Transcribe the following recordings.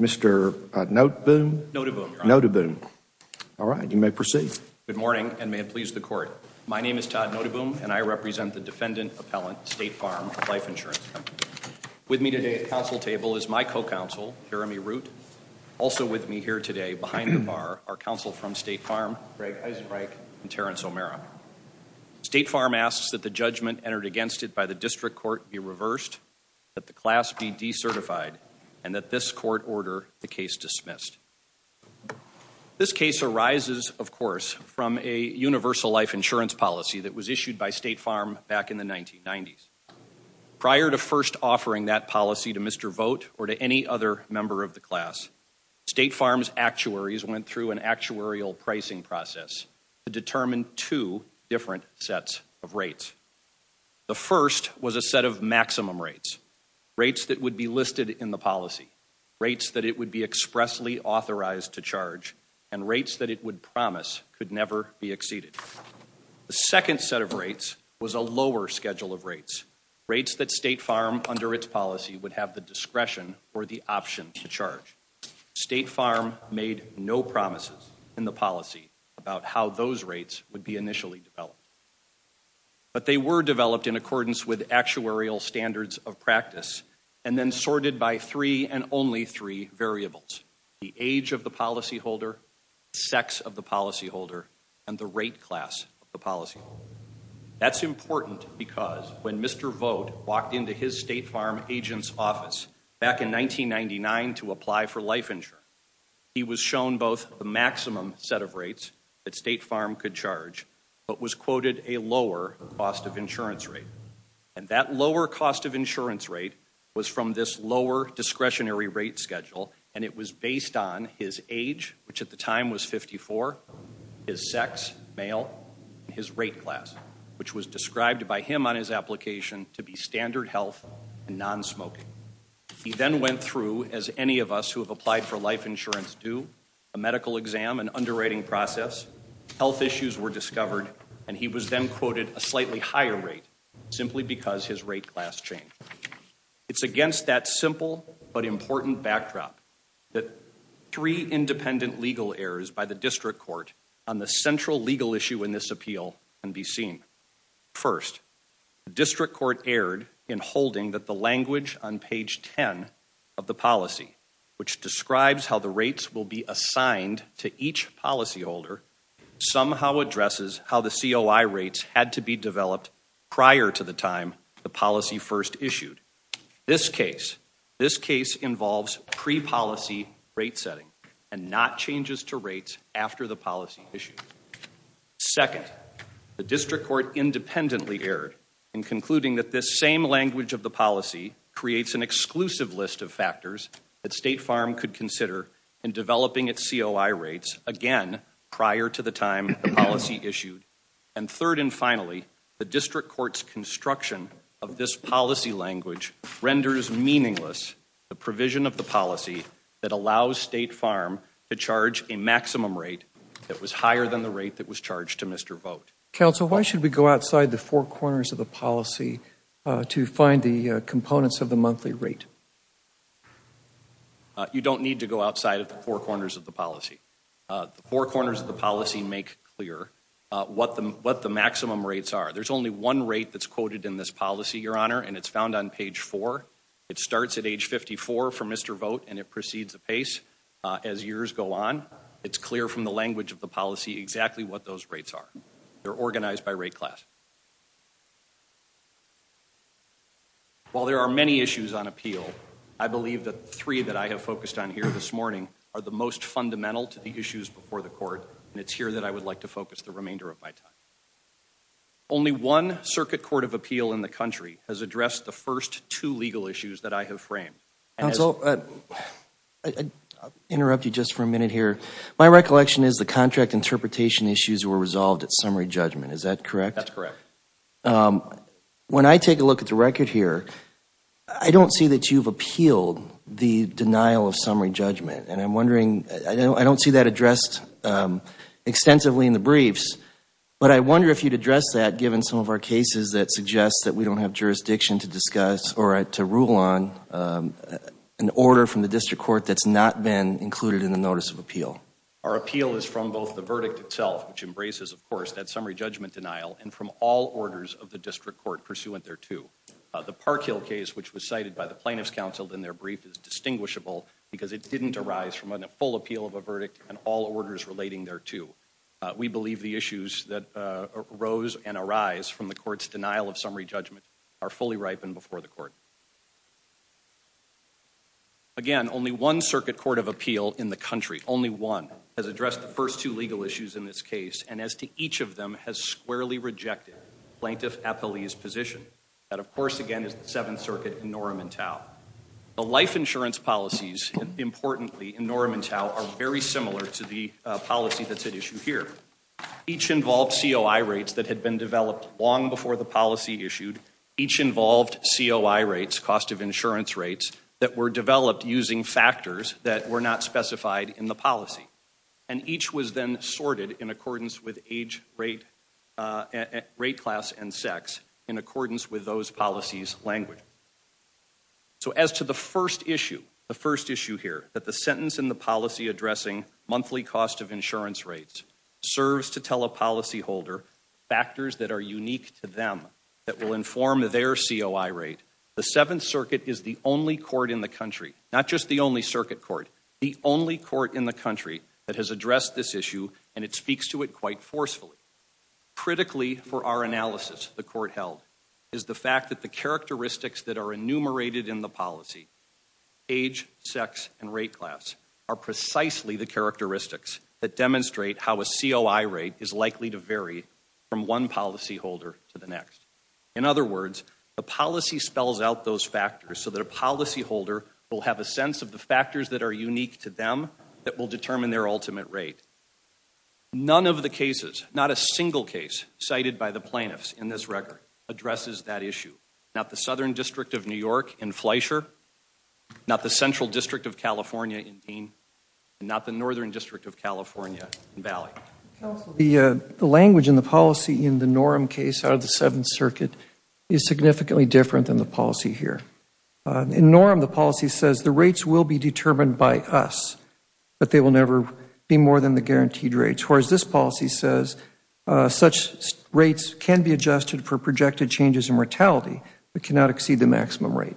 Mr. Noteboom. All right, you may proceed. Good morning, and may it please the court. My name is Todd Noteboom, and I represent the defendant appellant State Farm Life Insurance Company. With me today at the council table is my co-counsel, Jeremy Root. Also with me here today behind the bar are counsel from State Farm, Greg Eisenreich and Terrence O'Mara. State Farm asks that the judgment entered against it by the district court be reversed, that the class be decertified, and that this court order the case dismissed. This case arises, of course, from a universal life insurance policy that was issued by State Farm back in the 1990s. Prior to first offering that policy to Mr. Vogt or to any other member of the sets of rates. The first was a set of maximum rates, rates that would be listed in the policy, rates that it would be expressly authorized to charge, and rates that it would promise could never be exceeded. The second set of rates was a lower schedule of rates, rates that State Farm under its policy would have the discretion or the option to charge. State Farm made no promises in the policy about how those rates would be initially developed. But they were developed in accordance with actuarial standards of practice and then sorted by three and only three variables. The age of the policyholder, sex of the policyholder, and the rate class of the policyholder. That's important because when Mr. Vogt walked into his farm agent's office back in 1999 to apply for life insurance, he was shown both the maximum set of rates that State Farm could charge, but was quoted a lower cost of insurance rate. And that lower cost of insurance rate was from this lower discretionary rate schedule, and it was based on his age, which at the time was 54, his sex, male, his rate class, which was described by him on his application to be standard health and non-smoking. He then went through, as any of us who have applied for life insurance do, a medical exam, an underwriting process, health issues were discovered, and he was then quoted a slightly higher rate simply because his rate class changed. It's against that simple but important backdrop that three independent legal errors by the district court on the central legal issue in appeal can be seen. First, the district court erred in holding that the language on page 10 of the policy, which describes how the rates will be assigned to each policyholder, somehow addresses how the COI rates had to be developed prior to the time the policy first issued. This case, this case involves pre-policy rate setting and not changes to rates after the issue. Second, the district court independently erred in concluding that this same language of the policy creates an exclusive list of factors that State Farm could consider in developing its COI rates again prior to the time the policy issued. And third and finally, the district court's construction of this policy language renders meaningless the provision of the policy that allows State Farm to charge a maximum rate that was higher than the rate that was charged to Mr. Vogt. Council, why should we go outside the four corners of the policy to find the components of the monthly rate? You don't need to go outside of the four corners of the policy. The four corners of the policy make clear what the maximum rates are. There's only one rate that's quoted in this policy, and it's found on page four. It starts at age 54 for Mr. Vogt, and it precedes the pace as years go on. It's clear from the language of the policy exactly what those rates are. They're organized by rate class. While there are many issues on appeal, I believe that three that I have focused on here this morning are the most fundamental to the issues before the court, and it's here that I would like to focus the remainder of my time. Only one circuit court of appeal in the country has addressed the first two legal issues that I have framed. Council, I'll interrupt you just for a minute here. My recollection is the contract interpretation issues were resolved at summary judgment. Is that correct? That's correct. When I take a look at the record here, I don't see that you've appealed the denial of summary judgment. I don't see that addressed extensively in the briefs, but I wonder if you'd address that given some of our cases that suggest that we don't have jurisdiction to discuss or to rule on an order from the district court that's not been included in the notice of appeal. Our appeal is from both the verdict itself, which embraces, of course, that summary judgment denial, and from all orders of the district court pursuant thereto. The Park Hill case, which was cited by the plaintiffs' counsel in their brief, is from a full appeal of a verdict and all orders relating thereto. We believe the issues that arose and arise from the court's denial of summary judgment are fully ripened before the court. Again, only one circuit court of appeal in the country, only one, has addressed the first two legal issues in this case, and as to each of them, has squarely rejected Plaintiff Appellee's position. That, of course, again, is the Seventh Circuit in Norham and Tao. The life insurance policies, importantly, in Norham and Tao, are very similar to the policy that's at issue here. Each involved COI rates that had been developed long before the policy issued. Each involved COI rates, cost of insurance rates, that were developed using factors that were not specified in the policy. And each was then sorted in accordance with age, rate, rate class, and sex in accordance with those policies' language. So as to the first issue, the first issue here, that the sentence in the policy addressing monthly cost of insurance rates serves to tell a policyholder factors that are unique to them that will inform their COI rate, the Seventh Circuit is the only court in the country, not just the only circuit court, the only court in the country that has addressed this issue, and it speaks to it quite forcefully. Critically for our analysis, the court held, is the fact that the characteristics that are enumerated in the policy, age, sex, and rate class, are precisely the characteristics that demonstrate how a COI rate is likely to vary from one policyholder to the next. In other words, the policy spells out those factors so that a policyholder will have a sense of the factors that are unique to them that will determine their ultimate rate. None of the cases, not a single case cited by the plaintiffs in this record addresses that issue. Not the Southern District of New York in Fleisher, not the Central District of California in Dean, and not the Northern District of California in Valley. Counsel, the language in the policy in the NORM case out of the Seventh Circuit is significantly different than the policy here. In NORM, the policy says the rates will be but they will never be more than the guaranteed rates, whereas this policy says such rates can be adjusted for projected changes in mortality but cannot exceed the maximum rate.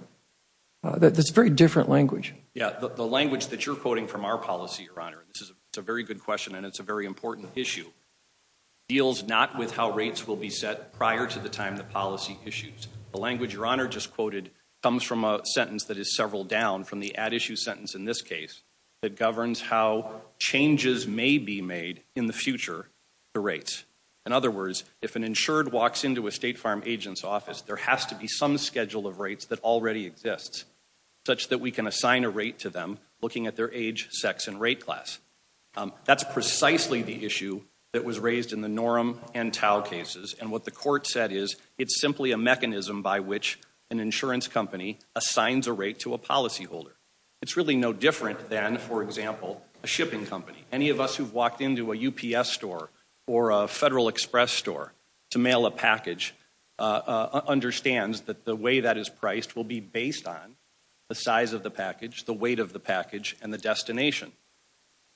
That's very different language. Yeah, the language that you're quoting from our policy, Your Honor, this is a very good question and it's a very important issue, deals not with how rates will be set prior to the time the policy issues. The language, Your Honor, just quoted comes from a sentence that is several down from the at-issue sentence in this case that governs how changes may be made in the future to rates. In other words, if an insured walks into a State Farm agent's office, there has to be some schedule of rates that already exists such that we can assign a rate to them looking at their age, sex, and rate class. That's precisely the issue that was raised in the NORM and TAO cases and what the court said is it's simply a mechanism by which an insurance company assigns a rate to a policyholder. It's really no different than, for example, a shipping company. Any of us who've walked into a UPS store or a Federal Express store to mail a package understands that the way that is priced will be based on the size of the package, the weight of the package, and the destination.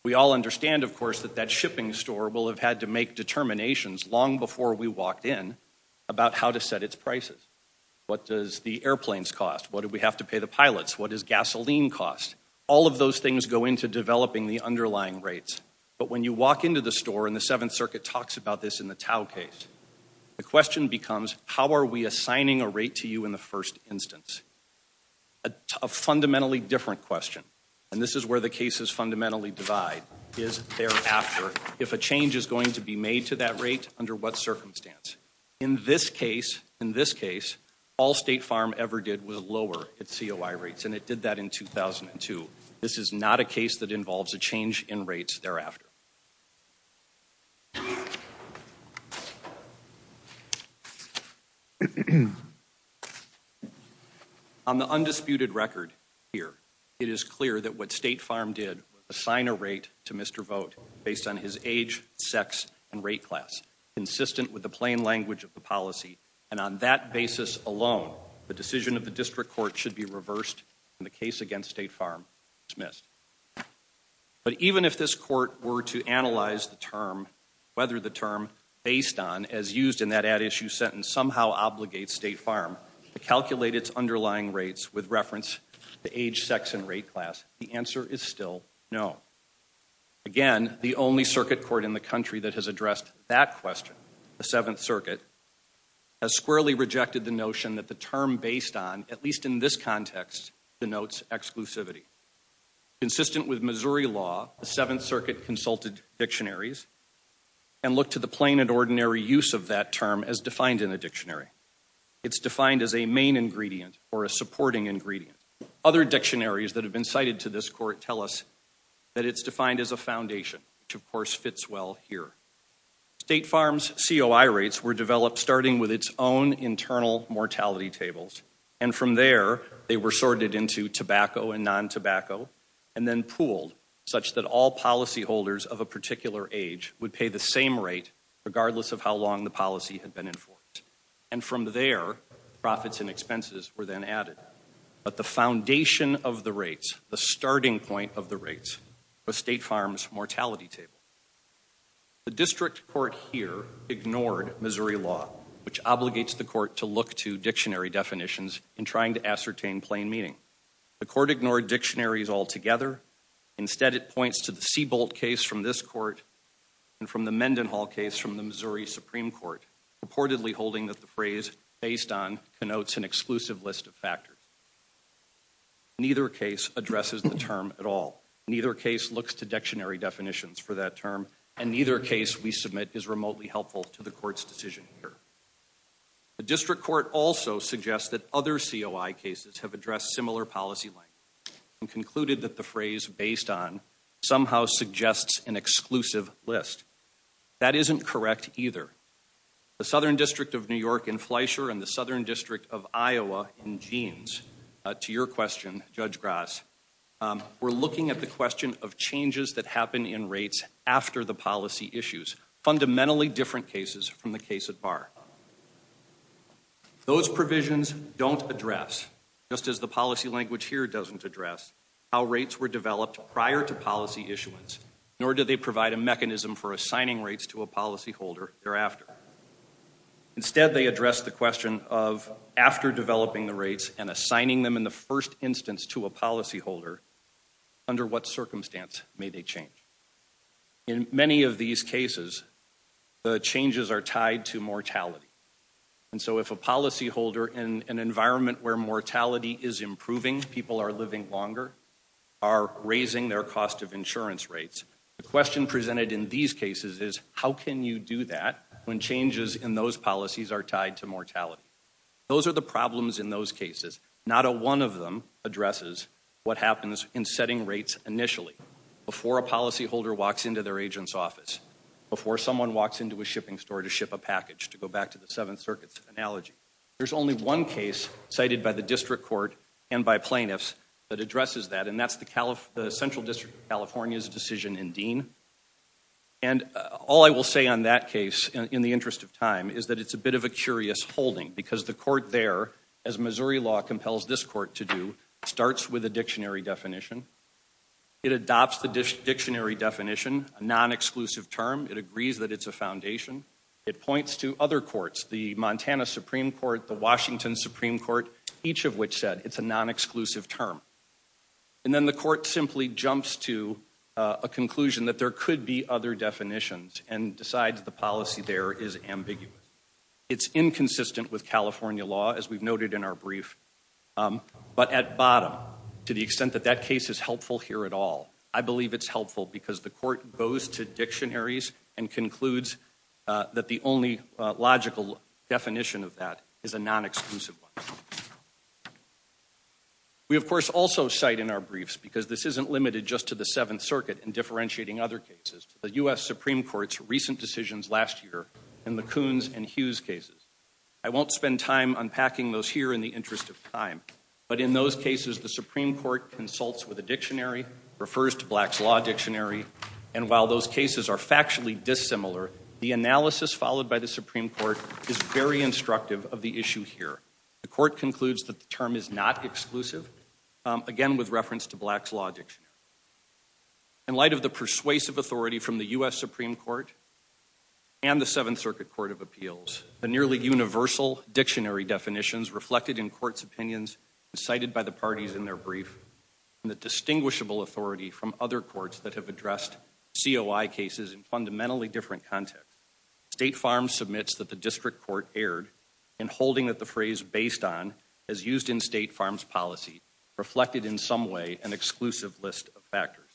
We all understand, of course, that that shipping store will have had to make determinations long before we walked in about how to set its prices. What does the airplanes cost? What do we have to pilots? What does gasoline cost? All of those things go into developing the underlying rates, but when you walk into the store and the Seventh Circuit talks about this in the TAO case, the question becomes, how are we assigning a rate to you in the first instance? A fundamentally different question, and this is where the cases fundamentally divide, is thereafter. If a change is going to be made to that rate, under what circumstance? In this case, in this case, all State Farm ever did was lower its COI rates, and it did that in 2002. This is not a case that involves a change in rates thereafter. On the undisputed record here, it is clear that what State Farm did was assign a rate to Mr. Vogt based on his age, sex, and rate class, consistent with the plain language of the policy on that basis alone. The decision of the district court should be reversed, and the case against State Farm dismissed. But even if this court were to analyze the term, whether the term based on, as used in that ad issue sentence, somehow obligates State Farm to calculate its underlying rates with reference to age, sex, and rate class, the answer is still no. Again, the only circuit court in the country that has addressed that question, the Seventh Circuit, has squarely rejected the notion that the term based on, at least in this context, denotes exclusivity. Consistent with Missouri law, the Seventh Circuit consulted dictionaries and looked to the plain and ordinary use of that term as defined in a dictionary. It's defined as a main ingredient or a supporting ingredient. Other dictionaries that have been cited to this court tell us that it's defined as a foundation, which of course fits well here. State Farm's COI rates were developed starting with its own internal mortality tables, and from there, they were sorted into tobacco and non-tobacco, and then pooled such that all policyholders of a particular age would pay the same rate regardless of how long the policy had been enforced. And from there, profits and expenses were then added. But the foundation of the rates, the starting point of the rates, was State Farm's mortality table. The district court here ignored Missouri law, which obligates the court to look to dictionary definitions in trying to ascertain plain meaning. The court ignored dictionaries altogether. Instead, it points to the Seabolt case from this court and from the Mendenhall case from the Missouri Supreme Court, purportedly holding that the phrase based on connotes an exclusive list of factors. Neither case addresses the term at all. Neither case looks to dictionary definitions for that term, and neither case we submit is remotely helpful to the court's decision here. The district court also suggests that other COI cases have addressed similar policy length and concluded that the phrase based on somehow suggests an exclusive list. That isn't correct either. The Southern District of New York in Fleischer and the Southern District of Iowa in Jeans, to your question, Judge Grass, were looking at the question of changes that happen in rates after the policy issues, fundamentally different cases from the case at bar. Those provisions don't address, just as the policy language here doesn't address, how rates were developed prior to policy issuance, nor do they provide a mechanism for assigning rates to a policyholder thereafter. Instead, they address the question of after developing the rates and assigning them in the first instance to a policyholder, under what circumstance may they change. In many of these cases, the changes are tied to mortality. And so if a policyholder in an environment where mortality is improving, people are living longer, are raising their cost of insurance rates. The question presented in these cases is, how can you do that when changes in those policies are tied to mortality? Those are the problems in those cases. Not a one of them addresses what happens in setting rates initially, before a policyholder walks into their agent's office, before someone walks into a shipping store to ship a package, to go back to the Seventh Circuit's analogy. There's only one case cited by the district court and by plaintiffs that addresses that, and that's the Central District of California's decision in Dean. And all I will say on that case, in the interest of time, is that it's a bit of a curious holding because the court there, as Missouri law compels this court to do, starts with a dictionary definition. It adopts the dictionary definition, a non-exclusive term. It agrees that it's a foundation. It points to other courts, the Montana Supreme Court, the Washington Supreme Court, each of which said it's a non-exclusive term. And then the court simply jumps to a conclusion that there could be other definitions and decides the policy there is ambiguous. It's inconsistent with California law, as we've noted in our brief, but at bottom, to the extent that that case is helpful here at all, I believe it's helpful because the court goes to dictionaries and concludes that the only logical definition of that is a non-exclusive one. We of course also cite in our briefs, because this isn't limited just to the Seventh Circuit and differentiating other cases, the U.S. Supreme Court's recent decisions last year in the Coons and Hughes cases. I won't spend time unpacking those here in the interest of time, but in those cases, the Supreme Court consults with a dictionary, refers to Black's Law Dictionary, and while those cases are factually dissimilar, the analysis followed by the Supreme Court is very instructive of the issue here. The court concludes that the term is not exclusive, again with reference to Black's Law Dictionary. In light of the persuasive authority from the U.S. Supreme Court and the Seventh Circuit Court of Appeals, the nearly universal dictionary definitions reflected in court's opinions and cited by the parties in their brief, and the distinguishable authority from other courts that have addressed COI cases in fundamentally different contexts, State Farm submits that the district court erred in holding that the phrase based on, as used in State Farm's policy, reflected in some way an exclusive list of factors.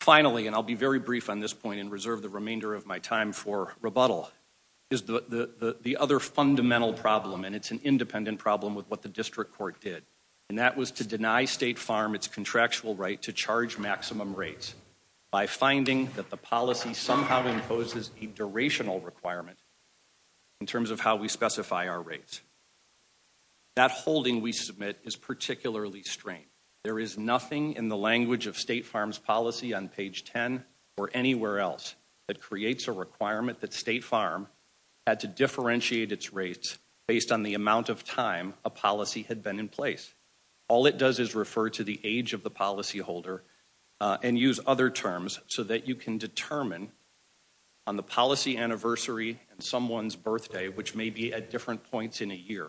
Finally, and I'll be very brief on this point and reserve the remainder of my time for rebuttal, is the other fundamental problem, and it's an independent problem with what the district court did, and that was to deny State Farm its contractual right to charge maximum rates by finding that the policy somehow imposes a durational requirement in terms of how we specify our rates. That holding we submit is particularly strange. There is nothing in the language of State Farm's policy on page 10 or anywhere else that creates a requirement that State Farm had to differentiate its rates based on the amount of time a policy had been in place. All it does is refer to the age of the policy holder and use other terms so that you can determine on the policy anniversary and someone's birthday, which may be at different points in a year,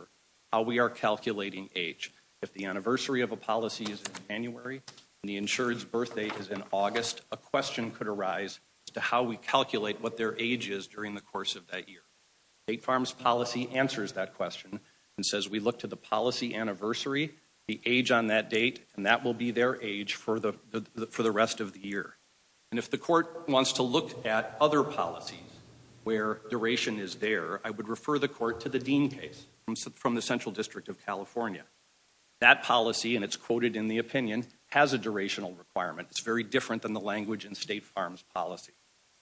how we are calculating age. If the anniversary of a policy is in January and the insured's birthday is in August, a question could arise as to how we calculate what their age is during the course of that year. State Farm's policy answers that question and says we look to the policy anniversary, the age on that date, and that will be their age for the rest of the year. And if the court wants to look at other policies where duration is there, I would refer the court to the Dean case from the Central District of California. That policy, and it's quoted in the opinion, has a durational requirement. It's very different than the language in State Farm's policy.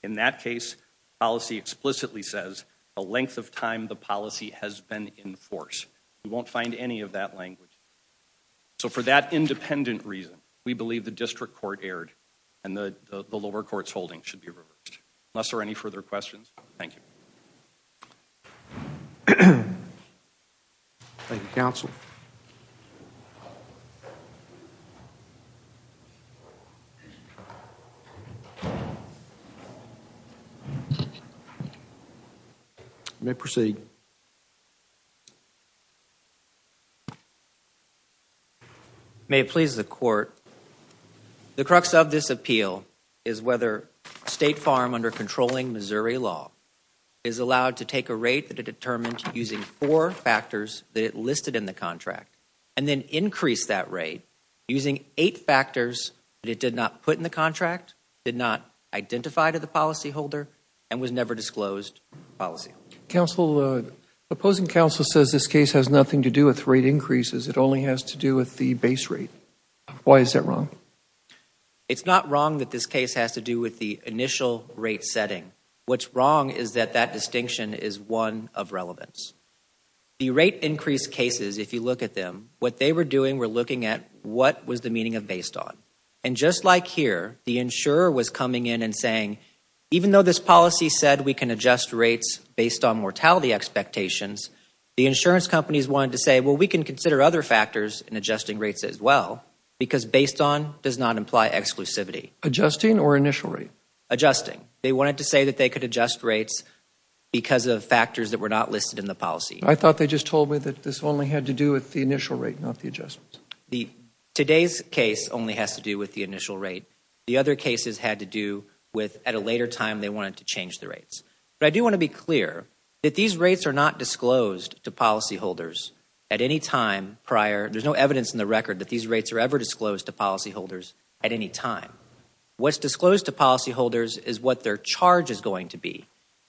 In that case, policy explicitly says the length of time the policy has been in force. We won't find any of that language. So for that independent reason, we believe the district court erred and the lower court's holding should be reversed. Unless there are any further questions, thank you. Thank you, counsel. You may proceed. May it please the court. The crux of this appeal is whether State Farm, under controlling Missouri law, is allowed to take a rate that it determined using four factors that it listed in the contract and then increase that rate using eight factors that it did not put in the contract, did not identify to the policyholder, and was never disclosed policy. Counsel, the opposing counsel says this case has nothing to do with rate increases, it only has to do with the base rate. Why is that wrong? It's not wrong that this case has to do with the initial rate setting. What's wrong is that that distinction is one of relevance. The rate increase cases, if you look at them, what they were doing were looking at what was the meaning of based on. And just like here, the insurer was coming in and saying, even though this policy said we can adjust rates based on mortality expectations, the insurance companies wanted to say, well, we can consider other factors in adjusting rates as well, because based on does not imply exclusivity. Adjusting or initial rate? Adjusting. They wanted to say that they could adjust rates because of factors that were not listed in the policy. I thought they just told me that this only had to do with the initial rate, not the adjustments. Today's case only has to do with the initial rate. The other cases had to do with at a later time they wanted to change the rates. But I do want to be clear that these rates are not disclosed to policyholders at any time prior. There's no evidence in the record that these rates are ever disclosed to policyholders at any time. What's disclosed to policyholders is what their charge is going to be.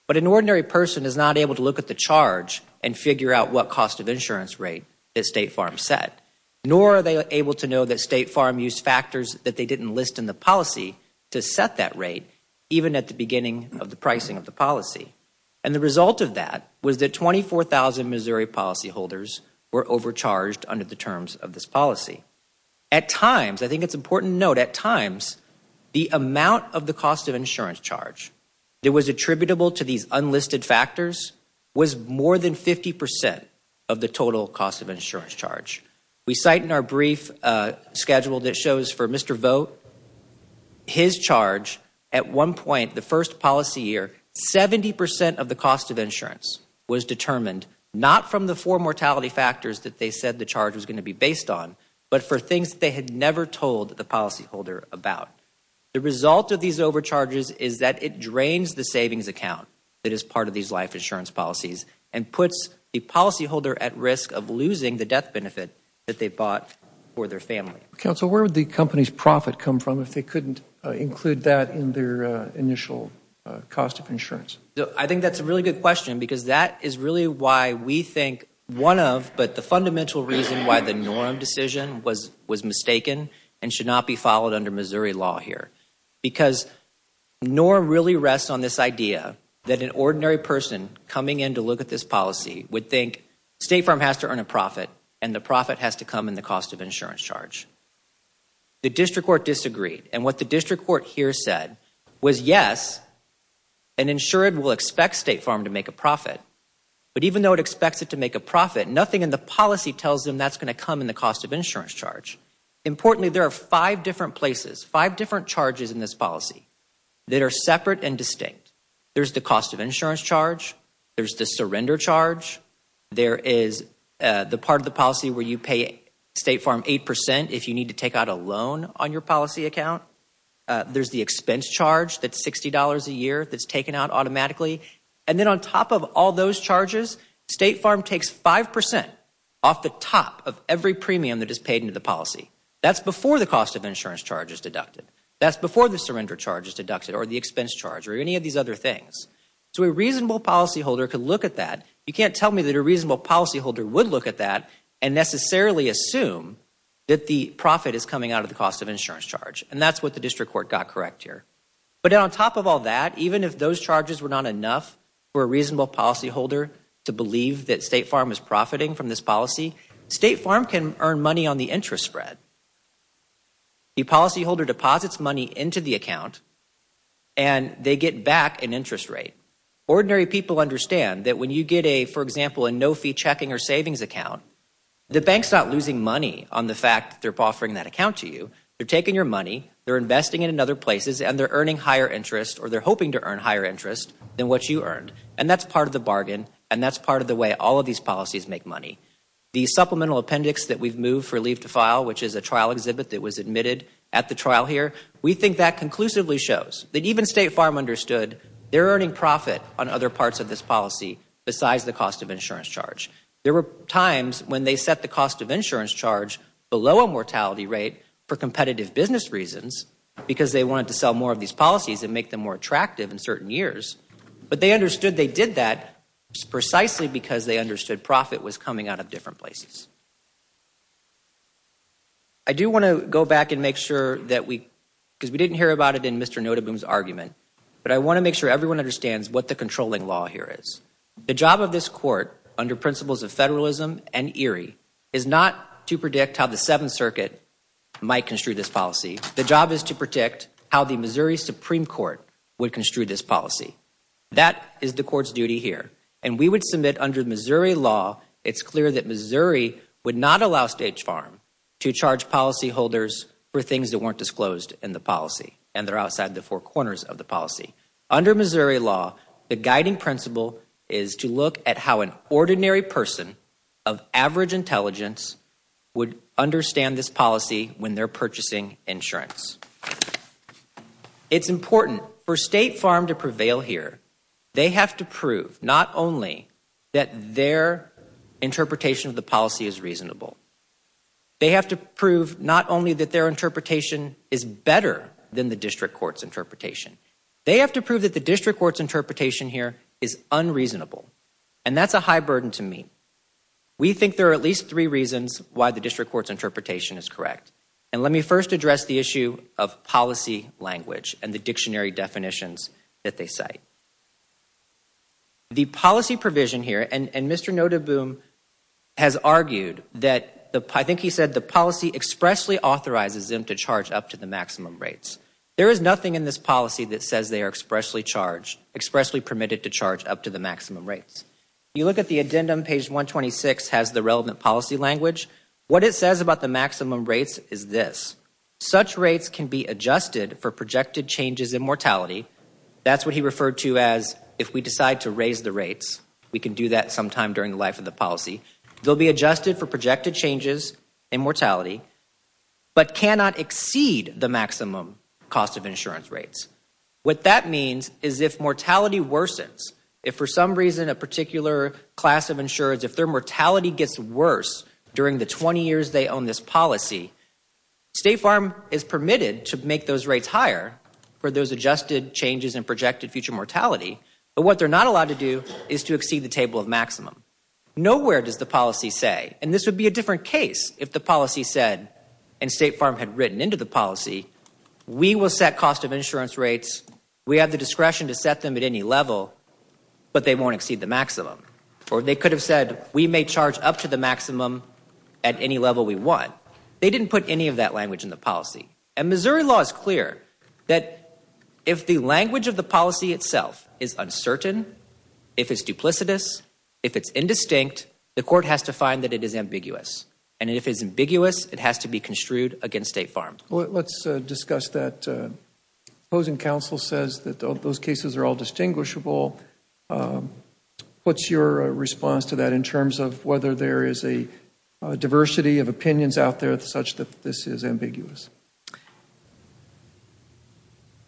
But an ordinary person is not able to look at the charge and figure out what cost of insurance rate that State Farm set, nor are they able to know that of the pricing of the policy. And the result of that was that 24,000 Missouri policyholders were overcharged under the terms of this policy. At times, I think it's important to note, at times the amount of the cost of insurance charge that was attributable to these unlisted factors was more than 50 percent of the total cost of insurance charge. We cite in our brief schedule that shows for Mr. Vogt, his charge at one point, the first policy year, 70 percent of the cost of insurance was determined not from the four mortality factors that they said the charge was going to be based on, but for things they had never told the policyholder about. The result of these overcharges is that it drains the savings account that is part of these life insurance policies and puts the policyholder at risk of losing the death benefit that they bought for their family. Counsel, where would the company's profit come from if they couldn't include that in their initial cost of insurance? I think that's a really good question because that is really why we think one of, but the fundamental reason why the norm decision was was mistaken and should not be followed under Missouri law here. Because norm really rests on this idea that an ordinary person coming in to look at this policy would think State Farm has to earn a profit and the profit has to come in the cost of insurance charge. The district court disagreed and what the district court here said was yes, an insured will expect State Farm to make a profit, but even though it expects it to make a profit, nothing in the policy tells them that's going to come in the cost of insurance charge. Importantly, there are five different places, five different charges in this policy that are separate and distinct. There's the cost of insurance charge, there's the surrender charge, there is the part of the policy where you pay State Farm eight percent if you need to take out a loan on your policy account, there's the expense charge that's sixty dollars a year that's taken out automatically, and then on top of all those charges, State Farm takes five percent off the top of every premium that is paid into the policy. That's before the cost of insurance charge is deducted. That's before the surrender charge is deducted or the expense charge or any of these other things. So a reasonable policyholder could look at that. You can't tell me that a reasonable policyholder would look at that and necessarily assume that the profit is coming out of the cost of insurance charge, and that's what the district court got correct here. But on top of all that, even if those charges were not enough for a reasonable policyholder to believe that State Farm is profiting from this policy, State Farm can earn money on the interest spread. A policyholder deposits money into the account and they get back an interest rate. Ordinary people understand that when you get a, for example, a no-fee checking or savings account, the bank's not losing money on the fact that they're offering that account to you. They're taking your money, they're investing it in other places, and they're earning higher interest or they're hoping to earn higher interest than what you earned. And that's part of the bargain, and that's part of the way all of these policies make money. The supplemental appendix that we've moved for leave to file, which is a trial exhibit that was admitted at the trial here, we think that conclusively shows that even State Farm understood they're earning profit on other parts of this policy besides the cost of insurance charge. There were times when they set the cost of insurance charge below a mortality rate for competitive business reasons because they wanted to sell more of these policies and make them more attractive in certain years, but they understood they did that precisely because they understood profit was coming out of different places. I do want to go back and make sure that we, because we didn't hear about it in Mr. Notenboom's argument, but I want to make sure everyone understands what the controlling law here is. The job of this court, under principles of federalism and ERIE, is not to predict how the Seventh Circuit might construe this policy. The job is to predict how the Missouri Supreme Court would construe this policy. That is the court's law. It's clear that Missouri would not allow State Farm to charge policyholders for things that weren't disclosed in the policy and they're outside the four corners of the policy. Under Missouri law, the guiding principle is to look at how an ordinary person of average intelligence would understand this policy when they're purchasing insurance. It's important for State Farm to prove that their interpretation of the policy is reasonable. They have to prove not only that their interpretation is better than the district court's interpretation. They have to prove that the district court's interpretation here is unreasonable and that's a high burden to meet. We think there are at least three reasons why the district court's interpretation is correct and let me first address the issue of policy language and the dictionary definitions that they cite. The policy provision here, and Mr. Nodaboom has argued that, I think he said the policy expressly authorizes them to charge up to the maximum rates. There is nothing in this policy that says they are expressly charged, expressly permitted to charge up to the maximum rates. You look at the addendum, page 126 has the relevant policy language. What it says about the maximum rates is this. Such rates can be adjusted for projected changes in mortality. That's what he referred to as if we decide to raise the rates, we can do that sometime during the life of the policy. They'll be adjusted for projected changes in mortality but cannot exceed the maximum cost of insurance rates. What that means is if mortality worsens, if for some reason a particular class of insurance, if their mortality gets worse during the 20 years they own this changes in projected future mortality, but what they're not allowed to do is to exceed the table of maximum. Nowhere does the policy say, and this would be a different case if the policy said, and State Farm had written into the policy, we will set cost of insurance rates, we have the discretion to set them at any level, but they won't exceed the maximum. Or they could have said we may charge up to the maximum at any level we want. They didn't put any of that in the policy. And Missouri law is clear that if the language of the policy itself is uncertain, if it's duplicitous, if it's indistinct, the court has to find that it is ambiguous. And if it's ambiguous, it has to be construed against State Farm. Let's discuss that. Opposing counsel says that those cases are all distinguishable. What's your response to that in terms of whether there is a diversity of opinions out there such that this is ambiguous?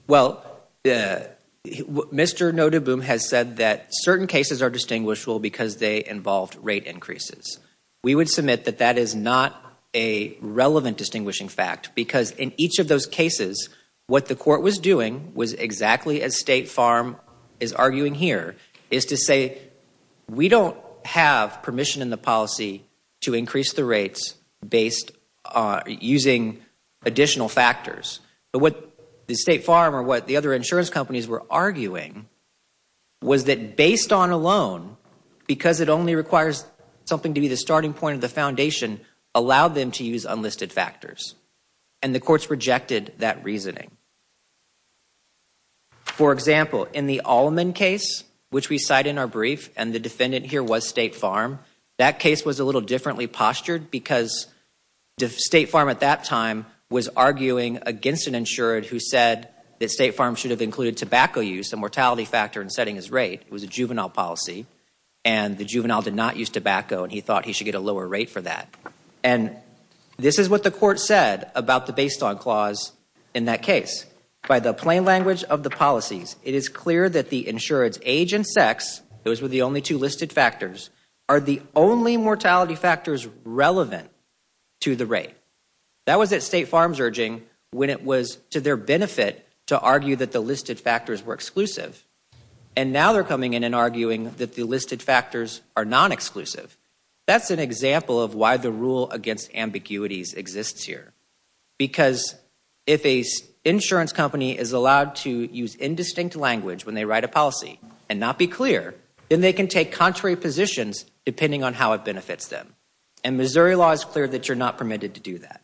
Well, Mr. Nodaboom has said that certain cases are distinguishable because they involved rate increases. We would submit that that is not a relevant distinguishing fact because in each of those cases, what the court was doing was exactly as State Farm is arguing here, is to say we don't have permission in the policy to increase the based using additional factors. But what the State Farm or what the other insurance companies were arguing was that based on a loan, because it only requires something to be the starting point of the foundation, allowed them to use unlisted factors. And the courts rejected that reasoning. For example, in the Allman case, which we cite in our brief, and the defendant here was State Farm at that time was arguing against an insured who said that State Farm should have included tobacco use, a mortality factor, in setting his rate. It was a juvenile policy and the juvenile did not use tobacco and he thought he should get a lower rate for that. And this is what the court said about the based on clause in that case. By the plain language of the policies, it is clear that the insured's age and sex, those were the only two listed factors, are the only mortality factors relevant to the rate. That was at State Farm's urging when it was to their benefit to argue that the listed factors were exclusive. And now they're coming in and arguing that the listed factors are non-exclusive. That's an example of why the rule against ambiguities exists here. Because if a insurance company is allowed to use indistinct language when they write a policy and not be clear, then they can take contrary positions depending on how it benefits them. And Missouri law is clear that you're not permitted to do that.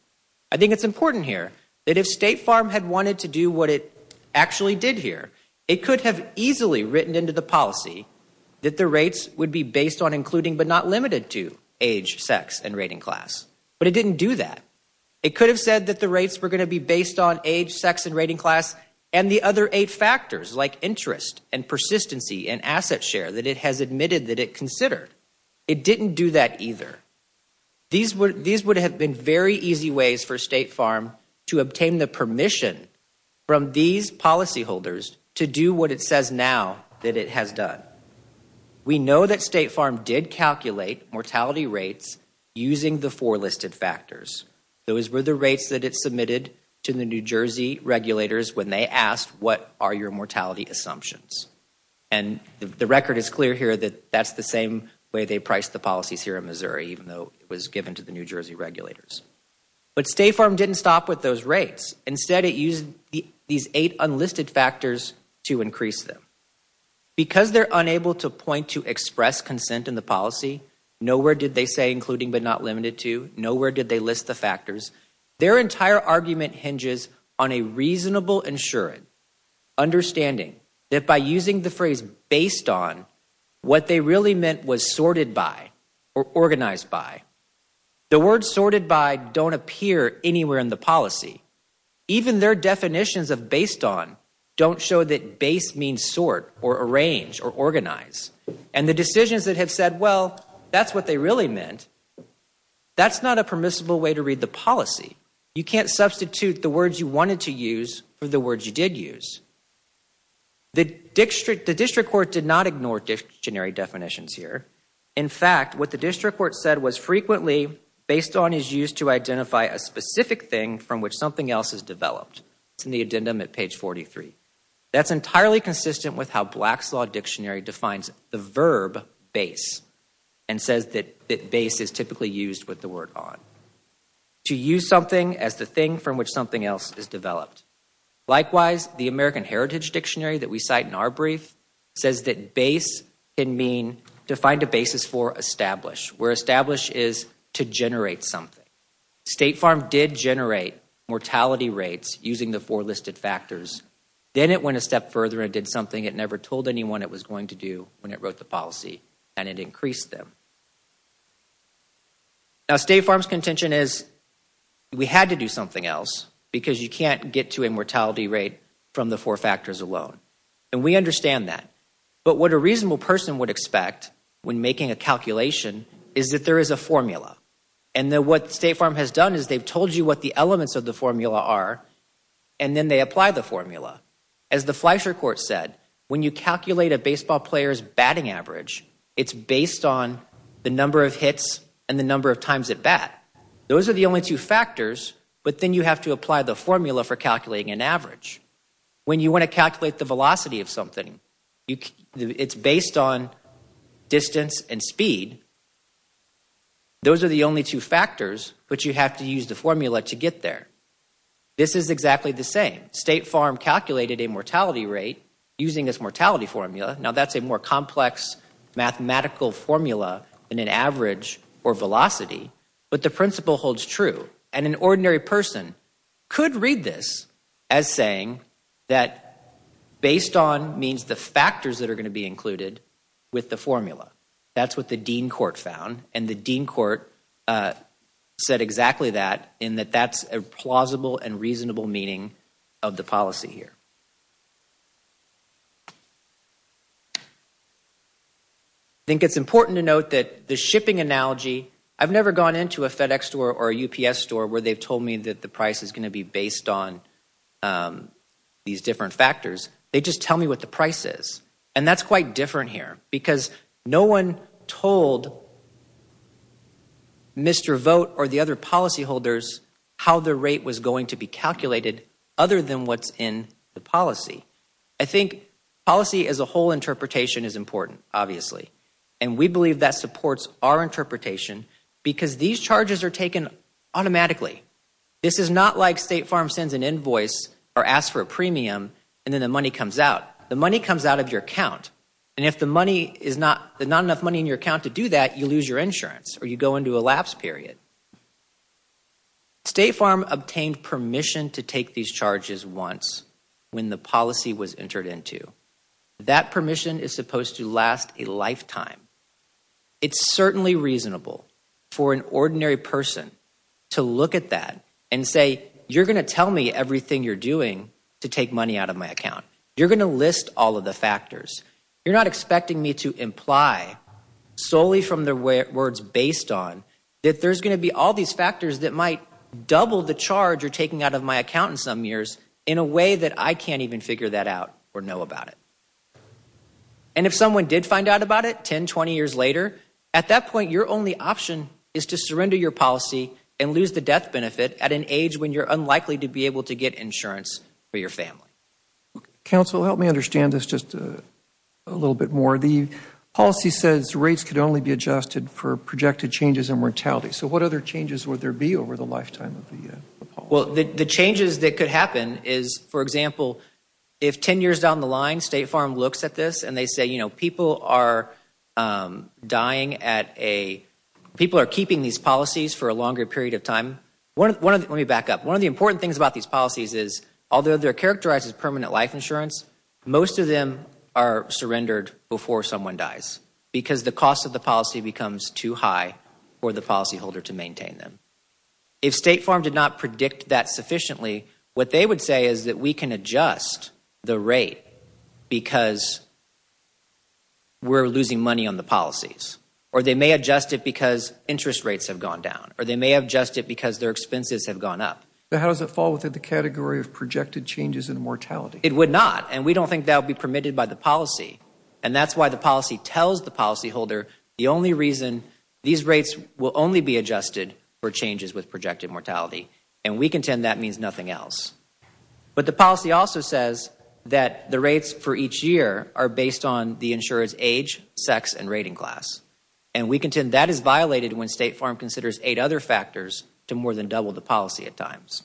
I think it's important here that if State Farm had wanted to do what it actually did here, it could have easily written into the policy that the rates would be based on including but not limited to age, sex, and rating class. But it didn't do that. It could have said that the rates were going to be based on age, sex, and rating class and the other eight factors like interest and persistency and asset share that it has admitted that it considered. It didn't do that either. These would have been very easy ways for State Farm to obtain the permission from these policyholders to do what it says now that it has done. We know that State Farm did calculate mortality rates using the four listed factors. Those were the rates that it submitted to the New Jersey regulators when they asked what are your mortality assumptions. And the record is clear here that that's the same way they priced the policies here in Missouri, even though it was given to the New Jersey regulators. But State Farm didn't stop with those rates. Instead it used these eight unlisted factors to increase them. Because they're unable to point to express consent in the policy, nowhere did they say including but not limited to, nowhere did they list the factors, their entire argument hinges on a reasonable and sure understanding that by using the phrase based on, what they really meant was sorted by or organized by. The word sorted by don't appear anywhere in the policy. Even their definitions of based on don't show that base means sort or arrange or organize. And the decisions that have said well, that's what they really meant, that's not a permissible way to read the policy. You can't substitute the words you wanted to use for the words you did use. The district court did not ignore dictionary definitions here. In fact, what the district court said was frequently based on is used to identify a specific thing from which something else is developed. It's in the addendum at page 43. That's entirely consistent with how Black's Law dictionary defines the verb base and says that base is typically used with the word on. To use something as the thing from which something else is developed. Likewise, the American Heritage Dictionary that we cite in our brief says that base can mean to find a basis for establish. Where establish is to generate something. State Farm did generate mortality rates using the four listed factors. Then it went a step further and did something it never told anyone it was going to do when it wrote the policy and it increased them. Now State Farm's contention is we had to do something else because you can't get to a mortality rate from the four factors alone. And we understand that. But what a reasonable person would expect when making a calculation is that there is a formula. And then what State Farm has done is they've told you what the elements of the formula are and then they apply the formula. As the Fleischer Court said, when you calculate a baseball player's batting average, it's based on the number of hits and the number of times it bat. Those are the only two factors, but then you have to apply the formula for calculating an average. When you want to calculate the velocity of something, it's based on distance and speed. Those are the only two factors, but you have to use the formula to get there. This is exactly the same. State Farm calculated a mortality rate using this mortality formula. Now that's a more complex mathematical formula than an average or velocity, but the principle holds true. And an ordinary person could read this as saying that based on means the factors that are going to be included with the formula. That's what the Dean Court found. And the Dean Court said exactly that in that that's a plausible and reasonable meaning of the policy here. I think it's important to note that the shipping analogy, I've never gone into a FedEx store or a UPS store where they've told me that the price is going to be based on these different factors. They just tell me what the price is. And that's quite different here because no one told Mr. Vogt or the other policyholders how the rate was going to be calculated other than what's in the policy. I think policy as a whole interpretation is important, obviously, and we believe that supports our interpretation because these charges are taken automatically. This is not like State Farm sends an invoice or asks for a premium and then the money comes out. The money comes out of your account and if the money is not, there's not enough money in your lapse period. State Farm obtained permission to take these charges once when the policy was entered into. That permission is supposed to last a lifetime. It's certainly reasonable for an ordinary person to look at that and say, you're going to tell me everything you're doing to take money out of my account. You're going to list all of the factors. You're not expecting me to imply solely from the words based on that there's going to be all these factors that might double the charge you're taking out of my account in some years in a way that I can't even figure that out or know about it. And if someone did find out about it 10, 20 years later, at that point, your only option is to surrender your policy and lose the death benefit at an age when you're unlikely to be able to get insurance for your family. Counsel, help me understand this just a little bit more. The policy says rates could only be adjusted for projected changes in mortality. So what other changes would there be over the lifetime of the policy? Well, the changes that could happen is, for example, if 10 years down the line State Farm looks at this and they say, people are keeping these policies for a longer period of time. Let me back up. One of the important things about these policies is although they're characterized as permanent life insurance, most of them are surrendered before someone dies because the cost of the policy becomes too high for the policyholder to maintain them. If State Farm did not predict that sufficiently, what they would say is that we can adjust the rate because we're losing money on the policies, or they may adjust it because interest rates have gone down, or they may adjust it because their expenses have gone up. How does it fall within the category of projected changes in mortality? We don't think that would be permitted by the policy, and that's why the policy tells the policyholder the only reason these rates will only be adjusted for changes with projected mortality, and we contend that means nothing else. But the policy also says that the rates for each year are based on the insurer's age, sex, and rating class, and we contend that is violated when State Farm considers eight other factors to more than double the policy at times.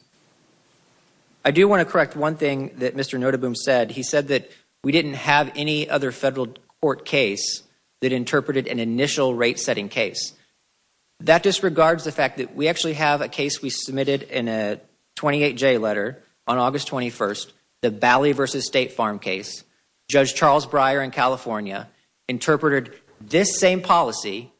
I do want to correct one thing that Mr. Notaboom said. He said that we didn't have any other federal court case that interpreted an initial rate-setting case. That disregards the fact that we actually have a case we submitted in a 28-J letter on August 21st, the Bally v. State Farm case. Judge Charles Breyer in California interpreted this same policy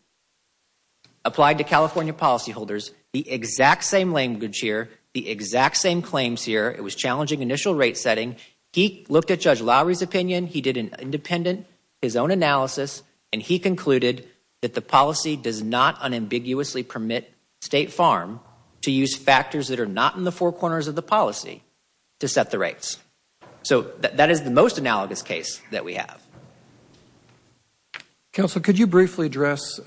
applied to California policyholders, the exact same language here, the exact same claims here. It was challenging initial rate-setting. He looked at Judge Lowry's opinion. He did an independent, his own analysis, and he concluded that the policy does not unambiguously permit State Farm to use factors that are not in the four corners of the policy to set the rates. So that is the most analogous case that we have. Counsel, could you briefly address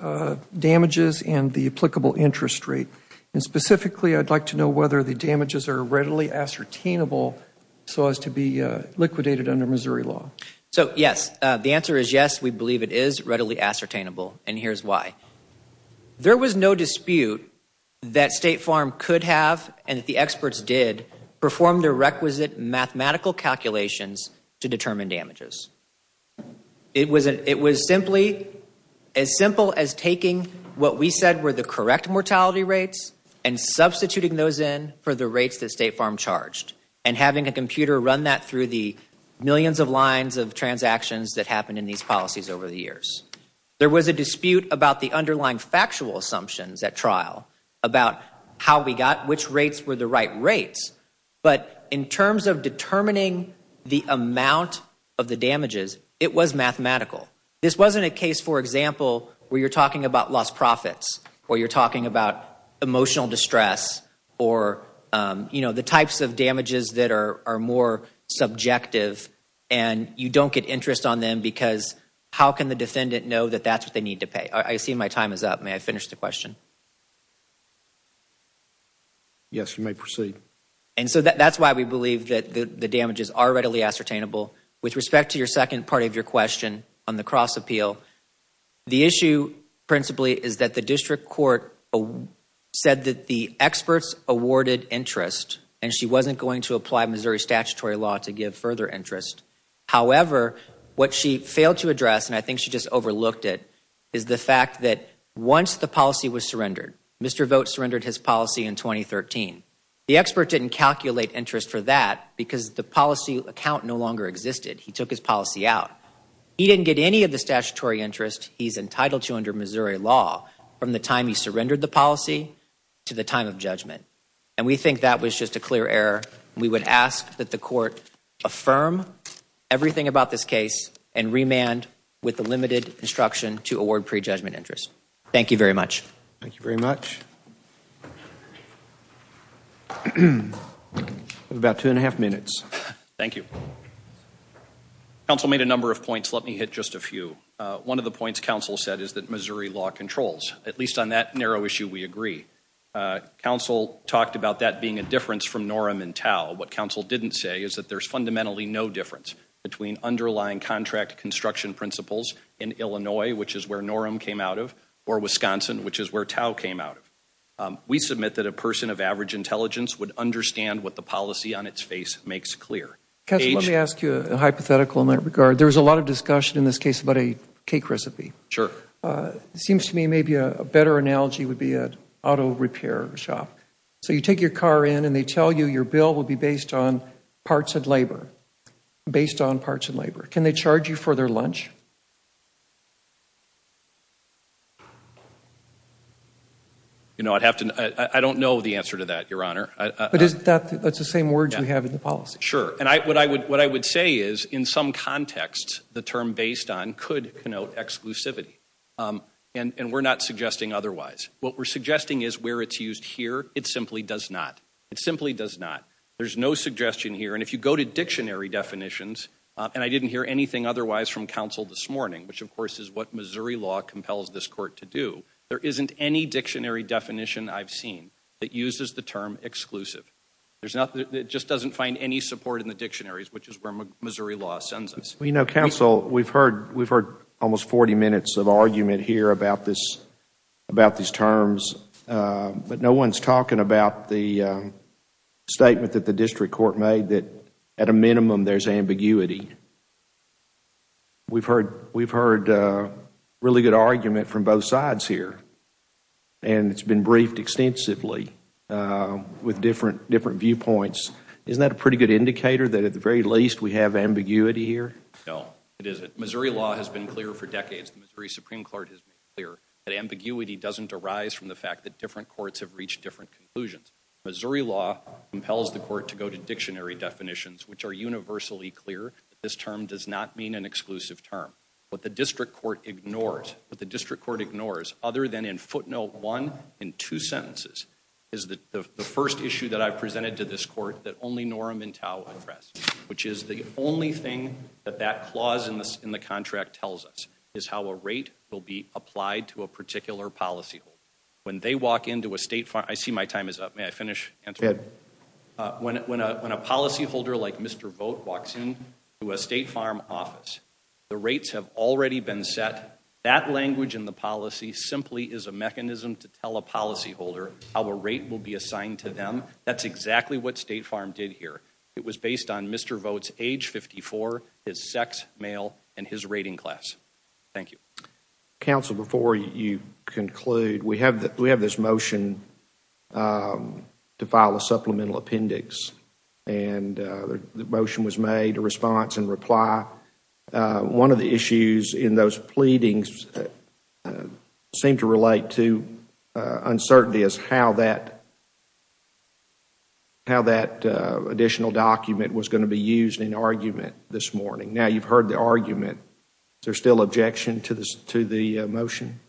damages and the applicable interest rate? And specifically, I'd like to know whether the damages are readily ascertainable so as to be liquidated under Missouri law. So, yes. The answer is yes, we believe it is readily ascertainable, and here's why. There was no dispute that State Farm could have and that the experts did perform their job. It was simply as simple as taking what we said were the correct mortality rates and substituting those in for the rates that State Farm charged and having a computer run that through the millions of lines of transactions that happened in these policies over the years. There was a dispute about the underlying factual assumptions at trial about how we got which rates were the right rates. But in terms of determining the amount of the damages, it was mathematical. This wasn't a case, for example, where you're talking about lost profits or you're talking about emotional distress or, you know, the types of damages that are more subjective and you don't get interest on them because how can the defendant know that that's what they need to pay? I see my is up. May I finish the question? Yes, you may proceed. And so that's why we believe that the damages are readily ascertainable. With respect to your second part of your question on the cross appeal, the issue principally is that the district court said that the experts awarded interest and she wasn't going to apply Missouri statutory law to give further interest. However, what she failed to address, and I think she just overlooked it, is the fact that once the policy was surrendered, Mr. Vogt surrendered his policy in 2013. The expert didn't calculate interest for that because the policy account no longer existed. He took his policy out. He didn't get any of the statutory interest he's entitled to under Missouri law from the time he surrendered the policy to the time of judgment. And we think that was just a clear error. We would ask that the court affirm everything about this case and remand with the limited instruction to award pre-judgment interest. Thank you very much. Thank you very much. About two and a half minutes. Thank you. Council made a number of points. Let me hit just a few. One of the points council said is that Missouri law controls. At least on that narrow issue we agree. Council talked about that being a difference from NORM and TAU. What council didn't say is that there's fundamentally no difference between underlying contract construction principles in Illinois, which is where NORM came out of, or Wisconsin, which is where TAU came out of. We submit that a person of average intelligence would understand what the policy on its face makes clear. Council, let me ask you a hypothetical in that regard. There's a lot of discussion in this case about a cake recipe. Sure. It seems to me maybe a better analogy would be an auto repair shop. So you take your car in and they tell you your bill will be based on parts of labor. Based on parts of labor. Can they charge you for their lunch? You know, I'd have to, I don't know the answer to that, your honor. But isn't that, that's the same words we have in the policy. Sure. And I, what I would, what I would say is in some contexts the term based on could connote exclusivity. And we're not suggesting otherwise. What we're suggesting is where it's used here, it simply does not. It simply does not. There's no suggestion here. And if you go to dictionary definitions, and I didn't hear anything otherwise from council this morning, which of course is what Missouri law compels this court to do, there isn't any dictionary definition I've seen that uses the term exclusive. There's nothing, it just doesn't find any support in the dictionaries, which is where Missouri law sends us. You know, council, we've heard, we've heard almost 40 minutes of argument here about this, about these terms. But no one's talking about the statement that the district court made that at a minimum there's ambiguity. We've heard, we've heard really good argument from both sides here. And it's been briefed extensively with different, different viewpoints. Isn't that a pretty good indicator that at the very least we have ambiguity here? No, it isn't. Missouri law has been clear for decades. The Missouri Supreme Court has made clear that ambiguity doesn't arise from the fact that different courts have reached different conclusions. Missouri law compels the court to go to dictionary definitions, which are universally clear that this term does not mean an exclusive term. What the district court ignores, what the district court ignores, other than in footnote one in two sentences, is that the first issue that to this court that only Noram and Tao address, which is the only thing that that clause in the contract tells us is how a rate will be applied to a particular policy. When they walk into a state, I see my time is up. May I finish? When a policyholder like Mr. Vogt walks in to a state farm office, the rates have already been set. That language in the policy simply is a mechanism to tell a policyholder how a rate will be assigned to them. That's exactly what State Farm did here. It was based on Mr. Vogt's age, 54, his sex, male, and his rating class. Thank you. Counsel, before you conclude, we have this motion to file a supplemental appendix, and the motion was made to response and reply. One of the issues in those pleadings seemed to relate to uncertainty as to how that additional document was going to be used in argument this morning. Now, you've heard the argument. Is there still objection to the motion?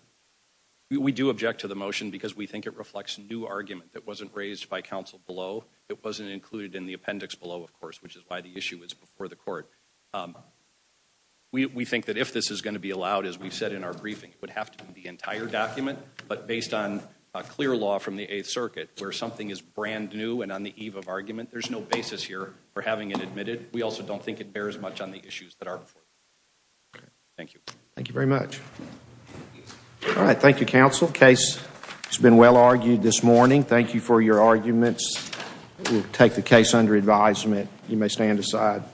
We do object to the motion because we think it reflects a new argument that wasn't raised by counsel below. It wasn't included in the appendix below, of course, which is why the issue is before the court. We think that if this is going to be allowed, as we said in our briefing, it would have to be the entire document, but based on a clear law from the 8th Circuit where something is brand new and on the eve of argument, there's no basis here for having it admitted. We also don't think it bears much on the issues that are before us. Thank you. Thank you very much. All right, thank you, counsel. Case has been well argued this morning. Thank you for your arguments. We'll take the case under advisement. You may stand aside.